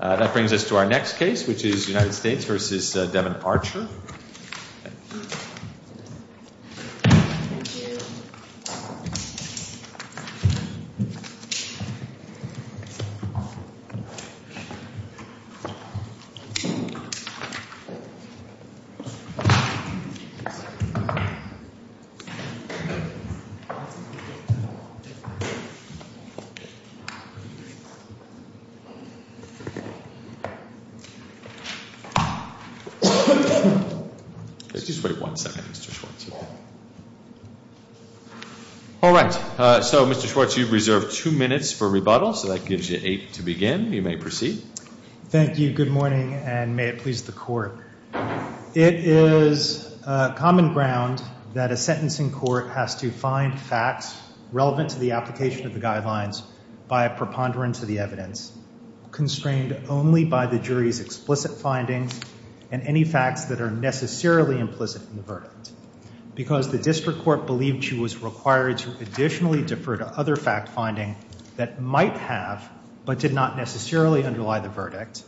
That brings us to our next case, which is United States v. Devon Archer. All right, so Mr. Schwartz, you've reserved two minutes for rebuttal, so that gives you eight to begin. You may proceed. Thank you. Good morning, and may it please the Court. It is common ground that a sentencing court has to find facts relevant to the application of the guidelines by a preponderance of the evidence, constrained only by the jury's explicit findings and any facts that are necessarily implicit in the verdict. Because the district court believed she was required to additionally defer to other fact finding that might have but did not necessarily underlie the verdict,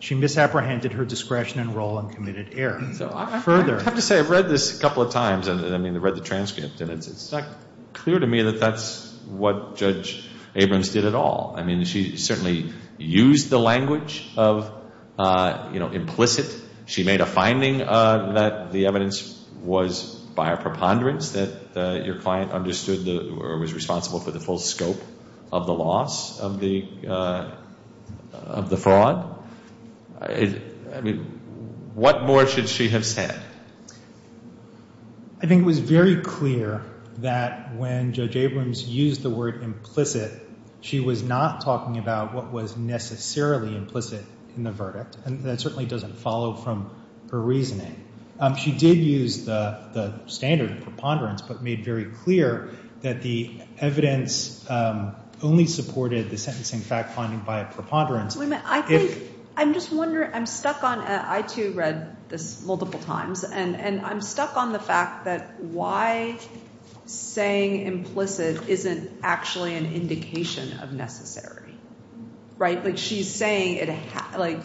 she misapprehended her discretion and role and committed error. Further I have to say, I've read this a couple of times, and I mean, I've read the transcript, and it's not clear to me that that's what Judge Abrams did at all. I mean, she certainly used the language of, you know, implicit. She made a finding that the evidence was by a preponderance, that your client understood or was responsible for the full scope of the loss of the fraud. What more should she have said? I think it was very clear that when Judge Abrams used the word implicit, she was not talking about what was necessarily implicit in the verdict, and that certainly doesn't follow from her reasoning. She did use the standard preponderance, but made very clear that the evidence only supported the sentencing fact finding by a preponderance. I think, I'm just wondering, I'm stuck on, I too read this multiple times, and I'm stuck on the fact that why saying implicit isn't actually an indication of necessary, right? Like, she's saying, like,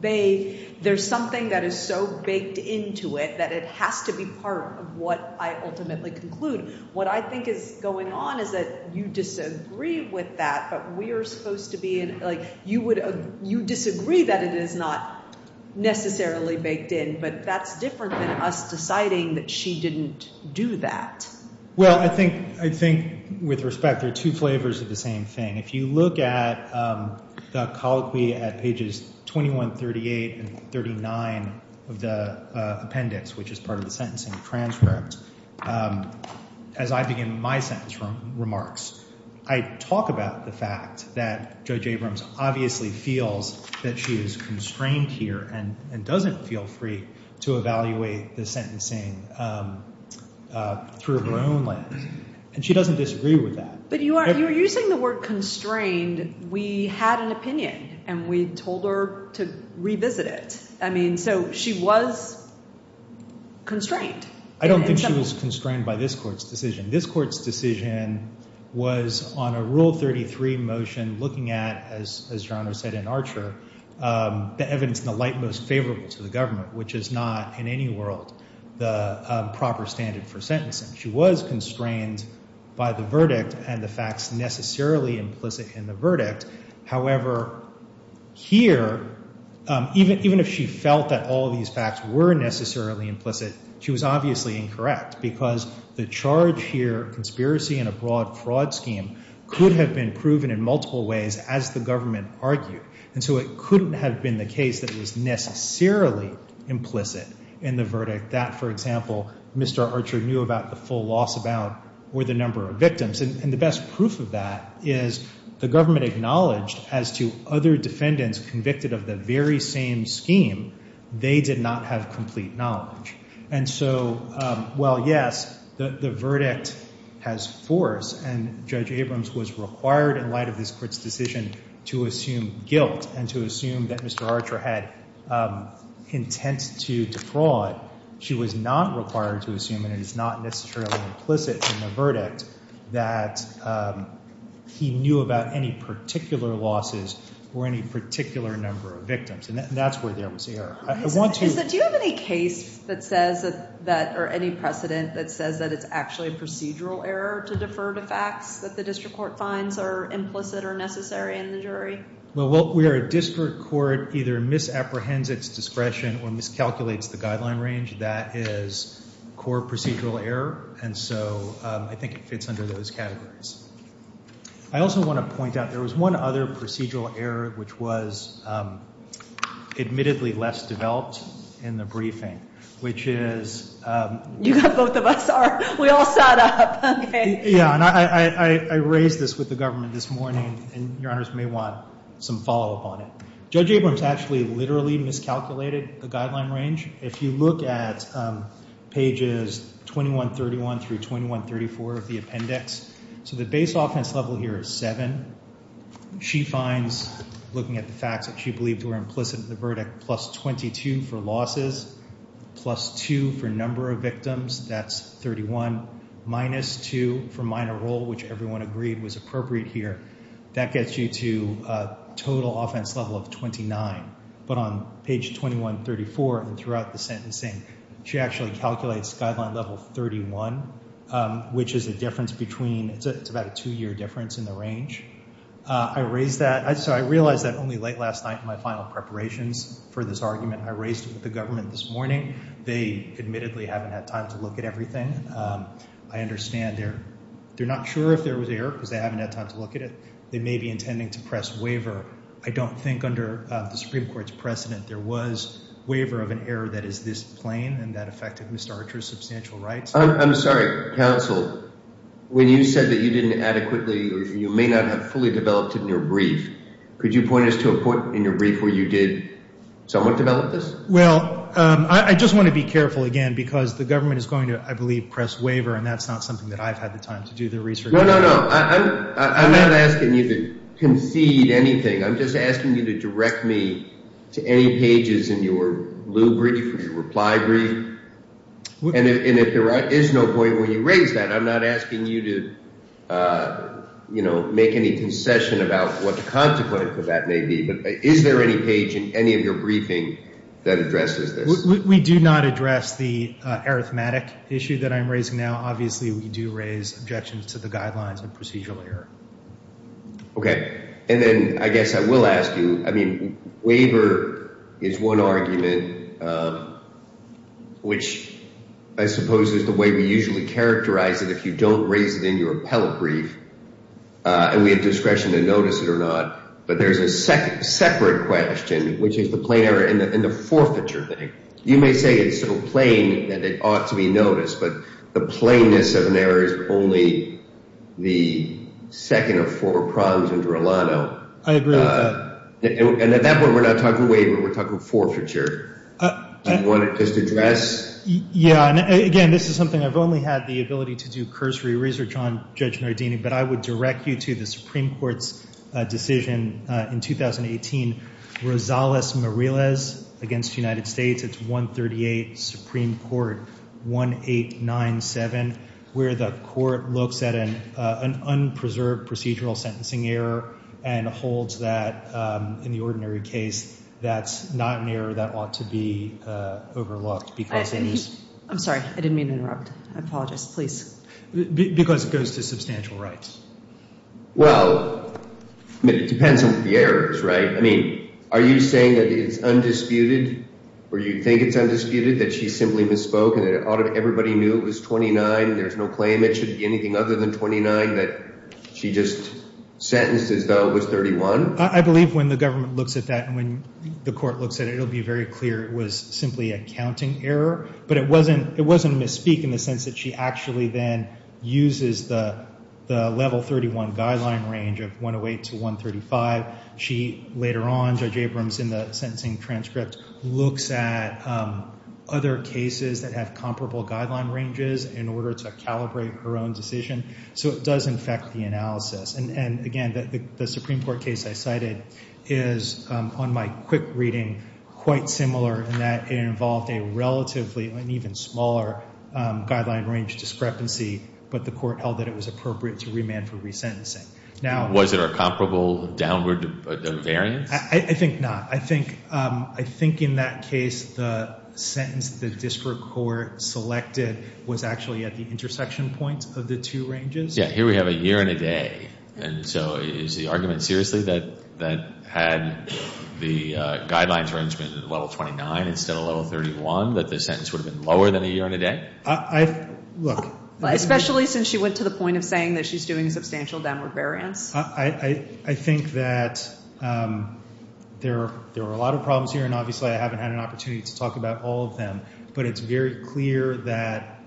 there's something that is so baked into it that it has to be part of what I ultimately conclude. What I think is going on is that you disagree with that, but we are supposed to be, like, you disagree that it is not necessarily baked in, but that's different than us deciding that she didn't do that. Well, I think, with respect, there are two flavors of the same thing. If you look at the colloquy at pages 21, 38, and 39 of the appendix, which is part of the sentencing transcript, as I begin my sentence remarks, I talk about the fact that Judge Abrams obviously feels that she is constrained here and doesn't feel free to evaluate the sentencing through her own lens, and she doesn't disagree with that. But you are using the word constrained. We had an opinion, and we told her to revisit it. I mean, so she was constrained. I don't think she was constrained by this court's decision. This court's decision was on a Rule 33 motion looking at, as John has said in Archer, the evidence in the light most favorable to the government, which is not, in any world, the proper standard for sentencing. She was constrained by the verdict and the facts necessarily implicit in the verdict. However, here, even if she felt that all of these facts were necessarily implicit, she was obviously incorrect, because the charge here, conspiracy in a broad fraud scheme, could have been proven in multiple ways, as the government argued. And so it couldn't have been the case that it was necessarily implicit in the verdict that, for example, Mr. Archer knew about the full loss about or the number of victims. And the best proof of that is the government acknowledged as to other defendants convicted of the very same scheme, they did not have complete knowledge. And so, well, yes, the verdict has force. And Judge Abrams was required, in light of this court's decision, to assume guilt and to assume that Mr. Archer had intent to defraud. She was not required to assume, and it is not necessarily implicit in the verdict, that he knew about any particular losses or any particular number of victims. And that's where there was error. I want to... Do you have any case that says that, or any precedent that says that it's actually a procedural error to defer to facts that the district court finds are implicit or necessary in the jury? Well, where a district court either misapprehends its discretion or miscalculates the guideline range, that is core procedural error. And so, I think it fits under those categories. I also want to point out, there was one other procedural error which was admittedly less developed in the briefing, which is... You got both of us are... We all sat up, okay. Yeah, and I raised this with the government this morning, and your honors may want some follow-up on it. Judge Abrams actually literally miscalculated the guideline range. If you look at pages 2131 through 2134 of the appendix, so the base offense level here is seven. She finds, looking at the facts that she believed were implicit in the verdict, plus 22 for losses, plus two for number of victims, that's 31, minus two for minor role, which everyone agreed was appropriate here. That gets you to a total offense level of 29. But on page 2134 and throughout the sentencing, she actually calculates guideline level 31, which is a difference between... It's about a two-year difference in the range. I raised that... So, I realized that only late last night in my final preparations for this argument. I raised it with the government this morning. They admittedly haven't had time to look at everything. I understand they're not sure if there was error because they haven't had time to look at it. They may be intending to press waiver. I don't think under the Supreme Court's precedent, there was waiver of an error that is this plain and that affected Ms. Archer's substantial rights. I'm sorry, counsel. When you said that you didn't adequately... You may not have fully developed it in your brief. Could you point us to a point in your brief where you did somewhat develop this? Well, I just want to be careful again because the government is going to, I believe, press waiver and that's not something that I've had the time to do the research on. No, no, no. I'm not asking you to concede anything. I'm just asking you to direct me to any pages in your blue brief, your reply brief. And if there is no point when you raise that, I'm not asking you to make any concession about what the consequence of that may be. But is there any page in any of your briefing that addresses this? We do not address the arithmetic issue that I'm raising now. Obviously, we do raise objections to the guidelines and procedural error. Okay. And then I guess I will ask you, I mean, waiver is one argument which I suppose is the way we usually characterize it if you don't raise it in your appellate brief and we have discretion to notice it or not. But there's a separate question, which is the plain error in the forfeiture thing. You may say it's so plain that it ought to be noticed, but the plainness of an error is only the second of four prongs in Verlano. I agree with that. And at that point, we're not talking waiver, we're talking forfeiture. Do you want to just address? Yeah. And again, this is something I've only had the ability to do cursory research on, Judge Nardini, but I would direct you to the Supreme Court's decision in 2018, Rosales-Morales against the United States. It's 138 Supreme Court 1897, where the court looks at an unpreserved procedural sentencing error and holds that in the ordinary case, that's not an error that ought to be overlooked because it is. I'm sorry. I didn't mean to interrupt. I apologize. Please. Because it goes to substantial rights. Well, it depends on the errors, right? I mean, are you saying that it's undisputed or you think it's undisputed that she simply misspoke and that everybody knew it was 29, there's no claim it should be anything other than 29, that she just sentenced as though it was 31? I believe when the government looks at that and when the court looks at it, it'll be very clear it was simply a counting error, but it wasn't a misspeak in the sense that she actually then uses the level 31 guideline range of 108 to 135. She, later on, Judge Abrams, in the sentencing transcript, looks at other cases that have comparable guideline ranges in order to calibrate her own decision. So it does infect the analysis. And again, the Supreme Court case I cited is, on my quick reading, quite similar in that it involved a relatively, an even smaller guideline range discrepancy, but the court held that it was appropriate to remand for resentencing. Now, was it a comparable downward variance? I think not. I think in that case, the sentence the district court selected was actually at the intersection points of the two ranges. Yeah, here we have a year and a day. And so is the argument seriously that had the guidelines arrangement at level 29 instead of level 31, that the sentence would have been lower than a year and a day? I, look. Especially since she went to the point of saying that she's doing a substantial downward variance. I think that there were a lot of problems here, and obviously I haven't had an opportunity to talk about all of them. But it's very clear that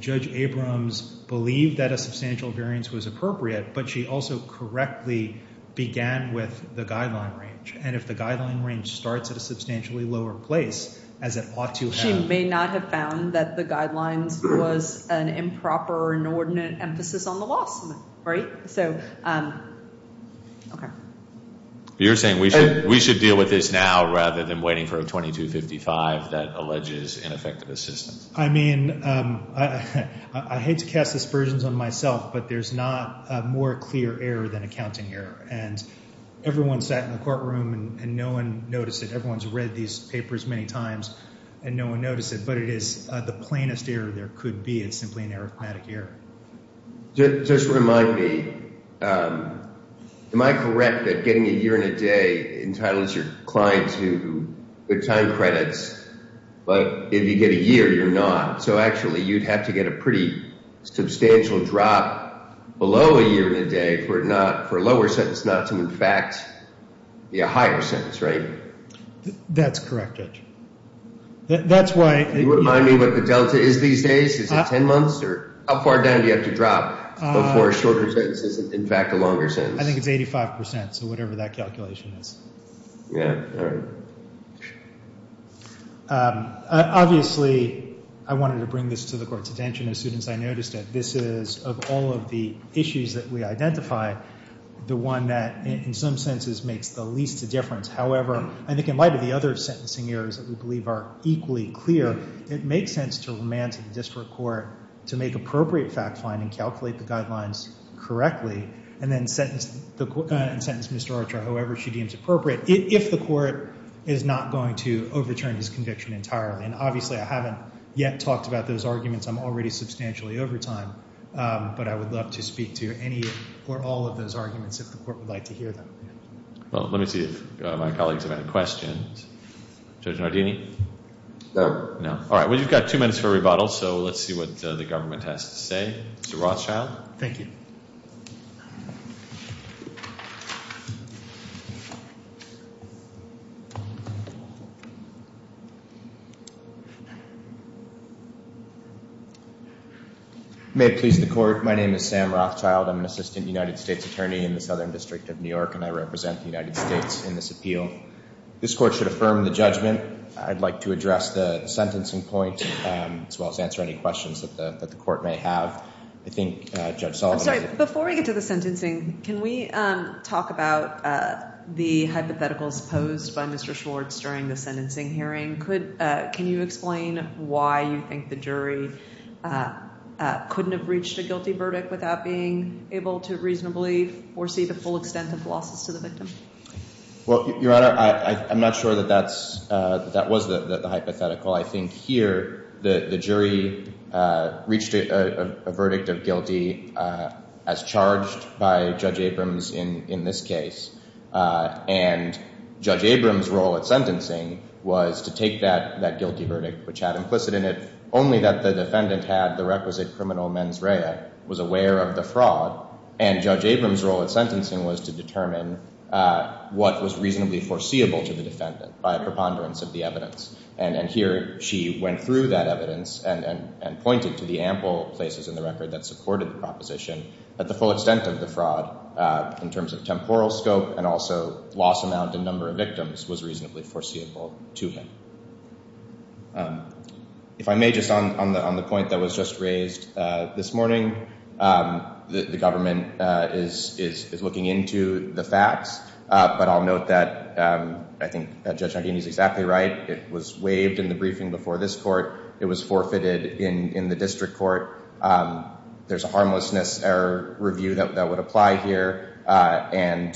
Judge Abrams believed that a substantial variance was appropriate, but she also correctly began with the guideline range. And if the guideline range starts at a substantially lower place, as it ought to have. She may not have found that the guidelines was an improper, inordinate emphasis on the law, right? So, okay. You're saying we should deal with this now rather than waiting for a 2255 that alleges ineffective assistance. I mean, I hate to cast aspersions on myself, but there's not a more clear error than accounting error. And everyone sat in the courtroom and no one noticed it. Everyone's read these papers many times and no one noticed it. But it is the plainest error there could be. It's simply an arithmetic error. Just remind me, am I correct that getting a year and a day entitles your client to good time credits, but if you get a year, you're not. So actually you'd have to get a pretty substantial drop below a year and a day for a lower sentence That's correct, Judge. That's why... Can you remind me what the delta is these days? Is it 10 months or how far down do you have to drop before a shorter sentence is in fact a longer sentence? I think it's 85%, so whatever that calculation is. Yeah, all right. Obviously, I wanted to bring this to the Court's attention as soon as I noticed it. This is, of all of the issues that we identify, the one that in some senses makes the least difference. However, I think in light of the other sentencing errors that we believe are equally clear, it makes sense to remand to the District Court to make appropriate fact-finding, calculate the guidelines correctly, and then sentence Mr. Archer however she deems appropriate if the Court is not going to overturn his conviction entirely. And obviously, I haven't yet talked about those arguments. I'm already substantially over time, but I would love to speak to any or all of those arguments if the Court would like to hear them. Well, let me see if my colleagues have any questions. Judge Nardini? No. No. All right, well, you've got two minutes for a rebuttal, so let's see what the government has to say. Mr. Rothschild? Thank you. May it please the Court, my name is Sam Rothschild. I'm an assistant United States attorney in the Southern District of New York, and I represent the United States in this appeal. This Court should affirm the judgment. I'd like to address the sentencing point, as well as answer any questions that the Court may have. I think Judge Sullivan has a question. Before we get to the sentencing, can we talk about the hypotheticals posed by Mr. Schwartz during the sentencing hearing? Can you explain why you think the jury couldn't have reached a guilty verdict without being able to reasonably foresee the full extent of losses to the victim? Well, Your Honor, I'm not sure that that was the hypothetical. I think here, the jury reached a verdict of guilty as charged by Judge Abrams in this case. And Judge Abrams' role at sentencing was to take that guilty verdict, which had implicit in it only that the defendant had the requisite criminal mens rea, was aware of the fraud. And Judge Abrams' role at sentencing was to determine what was reasonably foreseeable to the defendant by a preponderance of the evidence. And here, she went through that evidence and pointed to the ample places in the record that supported the proposition that the full extent of the fraud, in terms of temporal scope and also loss amount and number of victims, was reasonably foreseeable to him. If I may, just on the point that was just raised this morning, the government is looking into the facts. But I'll note that I think that Judge Nagini is exactly right. It was waived in the briefing before this court. It was forfeited in the district court. There's a harmlessness error review that would apply here. And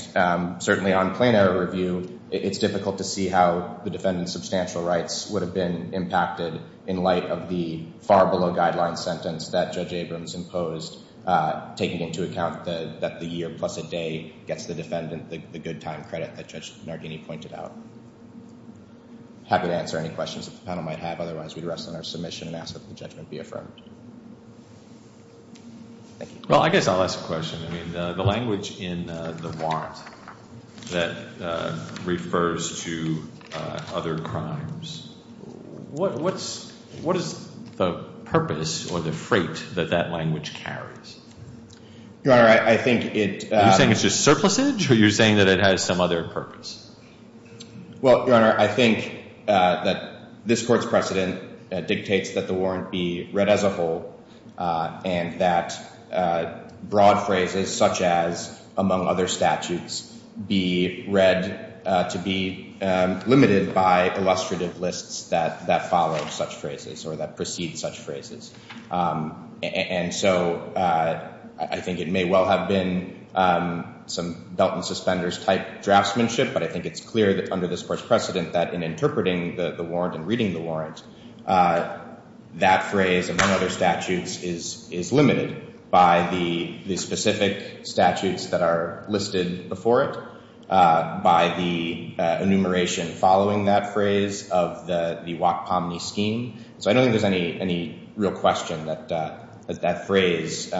certainly, on plain error review, it's difficult to see how the defendant's substantial rights would have been impacted in light of the far below guideline sentence that Judge Abrams imposed, taking into account that the year plus a day gets the defendant the good time credit that Judge Nagini pointed out. Happy to answer any questions that the panel might have. Otherwise, we'd rest on our submission and ask that the judgment be affirmed. Thank you. Well, I guess I'll ask a question. I mean, the language in the warrant that refers to other crimes, what is the purpose or the freight that that language carries? Your Honor, I think it's just surplusage, or you're saying that it has some other purpose? Well, Your Honor, I think that this court's precedent dictates that the warrant be read as a whole and that broad phrases, such as among other statutes, be read to be limited by illustrative lists that follow such phrases or that precede such phrases. And so I think it may well have been some belt and suspenders type draftsmanship, but I think it's clear that under this court's precedent that in interpreting the warrant and reading the warrant, that phrase, among other statutes, is limited by the specific statutes that are listed before it, by the enumeration following that phrase of the WACPOMNY scheme. So I don't think there's any real question that that phrase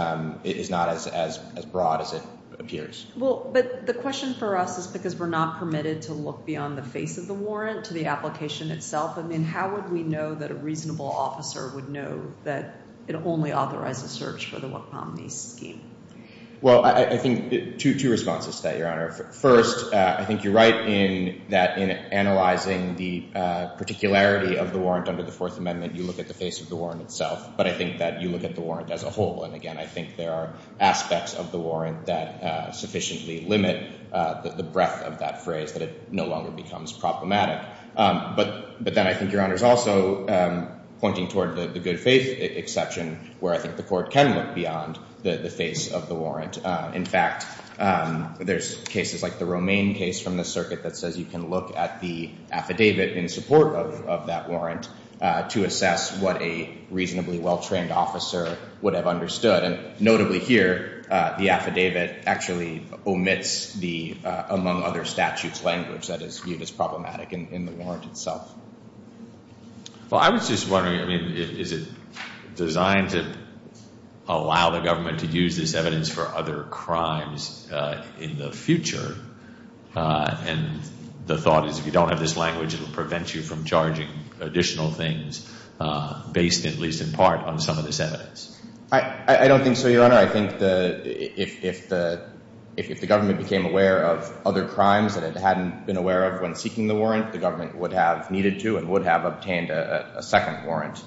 is not as broad as it appears. Well, but the question for us is because we're not permitted to look beyond the face of the warrant to the application itself. I mean, how would we know that a reasonable officer would know that it only authorizes search for the WACPOMNY scheme? Well, I think two responses to that, Your Honor. First, I think you're right in that in analyzing the particularity of the warrant under the Fourth Amendment, you look at the face of the warrant itself. But I think that you look at the warrant as a whole. And again, I think there are aspects of the warrant that sufficiently limit the breadth of that phrase that it no longer becomes problematic. But then I think, Your Honor, is also pointing toward the good faith exception, where I think the court can look beyond the face of the warrant. In fact, there's cases like the Romaine case from the circuit that says you can look at the affidavit in support of that warrant to assess what a reasonably well-trained officer would have understood. And notably here, the affidavit actually omits the among other statutes language that is viewed as problematic in the warrant itself. Well, I was just wondering, I mean, is it designed to allow the government to use this evidence for other crimes in the future? And the thought is if you don't have this language, it will prevent you from charging additional things based, at least in part, on some of this evidence. I don't think so, Your Honor. I think if the government became aware of other crimes that it hadn't been aware of when seeking the warrant, the government would have needed to and would have obtained a second warrant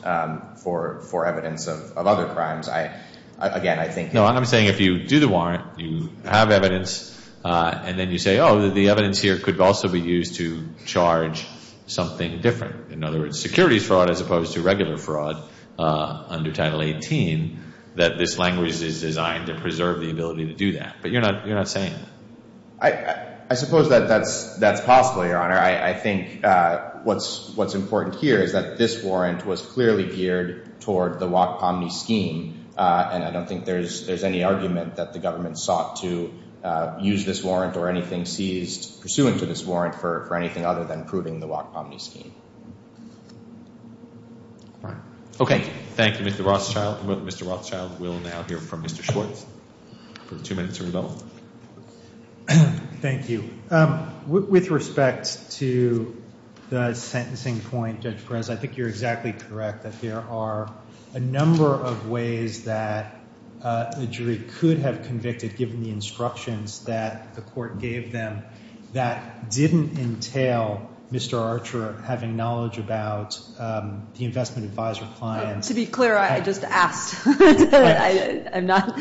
for evidence of other crimes. Again, I think that's what I'm saying. No, I'm saying if you do the warrant, you have evidence, and then you say, oh, the evidence here could also be used to charge something different, in other words, securities fraud as opposed to regular fraud under Title 18, that this language is designed to preserve the ability to do that. But you're not saying that. I suppose that that's possible, Your Honor. I think what's important here is that this warrant was clearly geared toward the WAC-POMNY scheme, and I don't think there's any argument that the government sought to use this warrant or anything seized pursuant to this warrant for anything other than proving the WAC-POMNY scheme. OK, thank you, Mr. Rothschild. Mr. Rothschild will now hear from Mr. Schwartz for the two minutes of rebuttal. Thank you. With respect to the sentencing point, Judge Perez, I think you're exactly correct that there are a number of ways that a jury could have convicted, given the instructions that the court gave them, that didn't entail Mr. Archer having knowledge about the investment advisor clients. To be clear, I just asked. I'm not.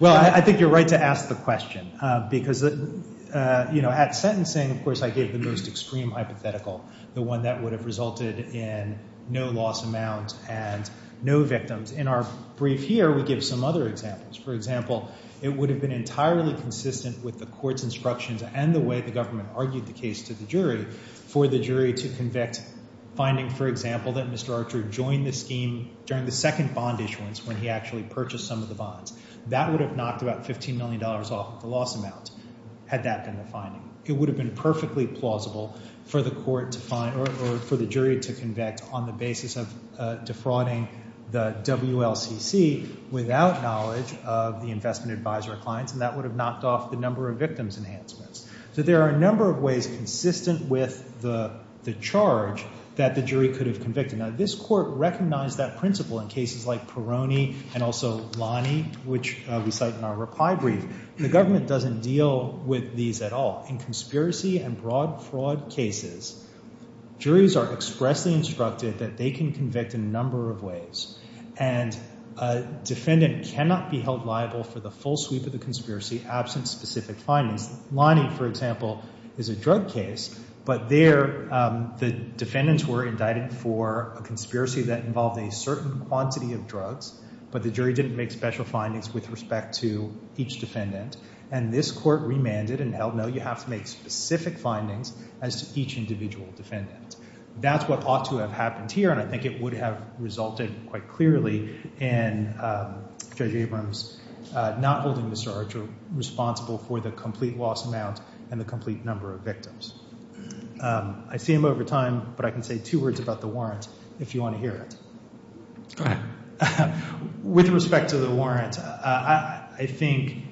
Well, I think you're right to ask the question, because at sentencing, of course, I gave the most extreme hypothetical, the one that would have resulted in no loss amount and no victims. In our brief here, we give some other examples. For example, it would have been entirely consistent with the court's instructions and the way the government argued the case to the jury for the jury to convict, finding, for example, that Mr. Archer joined the scheme during the second bond issuance when he actually purchased some of the bonds. That would have knocked about $15 million off the loss amount, had that been the finding. It would have been perfectly plausible for the court to find or for the jury to convict on the basis of defrauding the WLCC without knowledge of the investment advisor clients. And that would have knocked off the number of victims enhancements. So there are a number of ways consistent with the charge that the jury could have convicted. Now, this court recognized that principle in cases like Peroni and also Lani, which we cite in our reply brief. The government doesn't deal with these at all, but in conspiracy and broad fraud cases, juries are expressly instructed that they can convict in a number of ways. And a defendant cannot be held liable for the full sweep of the conspiracy absent specific findings. Lani, for example, is a drug case, but there the defendants were indicted for a conspiracy that involved a certain quantity of drugs, but the jury didn't make special findings with respect to each defendant. And this court remanded and held, no, you have to make specific findings as to each individual defendant. That's what ought to have happened here, and I think it would have resulted quite clearly in Judge Abrams not holding Mr. Archer responsible for the complete loss amount and the complete number of victims. I see him over time, but I can say two words about the warrant if you want to hear it. Go ahead. With respect to the warrant, I think,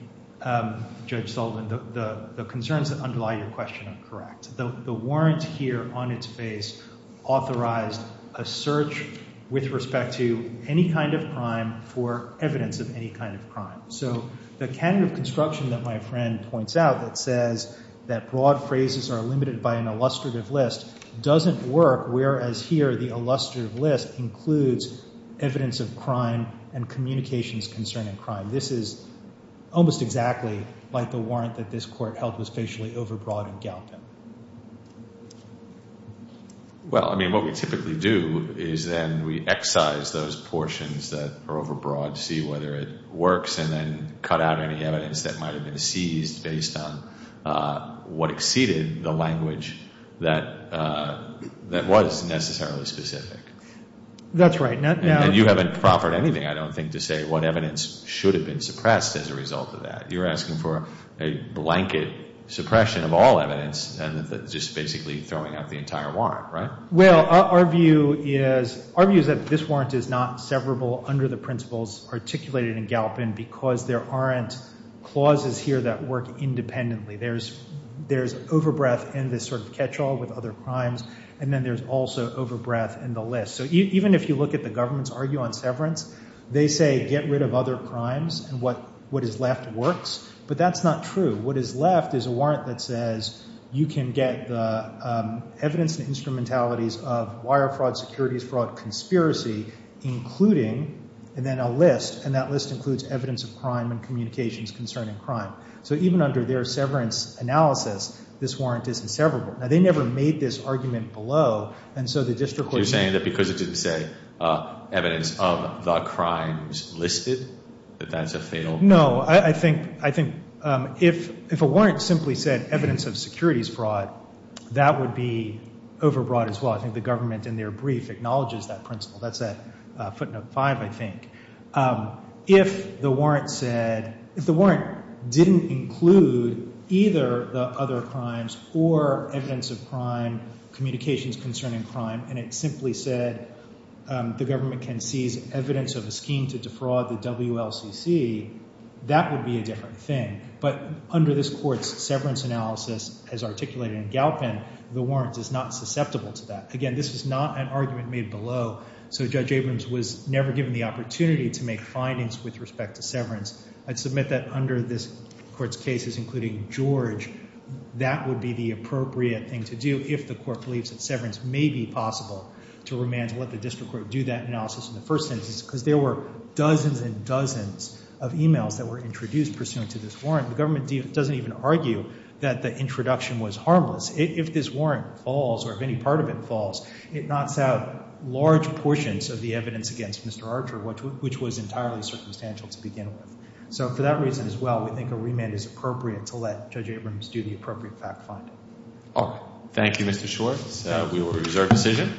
Judge Sullivan, the concerns that underlie your question are correct. The warrant here on its face authorized a search with respect to any kind of crime for evidence of any kind of crime. So the canon of construction that my friend points out that says that broad phrases are limited by an illustrative list doesn't work, whereas here the illustrative list includes evidence of crime and communications concerning crime. This is almost exactly like the warrant that this court held was facially overbroad and galping. Well, I mean, what we typically do is then we excise those portions that are overbroad to see whether it works and then cut out any evidence that might've been seized based on what exceeded the language that was necessarily specific. That's right. And you haven't proffered anything, I don't think, to say what evidence should have been suppressed as a result of that. You're asking for a blanket suppression of all evidence and just basically throwing out the entire warrant, right? Well, our view is that this warrant is not severable under the principles articulated in Galpin because there aren't clauses here that work independently. There's overbreath in this sort of catch-all with other crimes, and then there's also overbreath in the list. So even if you look at the government's argument on severance, they say get rid of other crimes and what is left works, but that's not true. What is left is a warrant that says you can get the evidence and instrumentalities of wire fraud, securities fraud, conspiracy, including, and then a list, and that list includes evidence of crime and communications concerning crime. So even under their severance analysis, this warrant isn't severable. Now, they never made this argument below, and so the district court- So the district didn't say evidence of the crimes listed, that that's a fatal- No, I think if a warrant simply said evidence of securities fraud, that would be overbroad as well. I think the government in their brief acknowledges that principle. That's that footnote five, I think. If the warrant said, if the warrant didn't include either the other crimes or evidence of crime, communications concerning crime, and it simply said the government can seize evidence of a scheme to defraud the WLCC, that would be a different thing, but under this court's severance analysis as articulated in Galpin, the warrant is not susceptible to that. Again, this is not an argument made below, so Judge Abrams was never given the opportunity to make findings with respect to severance. I'd submit that under this court's cases, including George, that would be the appropriate thing to do if the court believes that severance may be possible to remand and let the district court do that analysis in the first instance, because there were dozens and dozens of emails that were introduced pursuant to this warrant. The government doesn't even argue that the introduction was harmless. If this warrant falls, or if any part of it falls, it knocks out large portions of the evidence against Mr. Archer, which was entirely circumstantial to begin with. So for that reason as well, we think a remand is appropriate to let Judge Abrams do the appropriate fact-finding. All right. Thank you, Mr. Schwartz. We will reserve decision.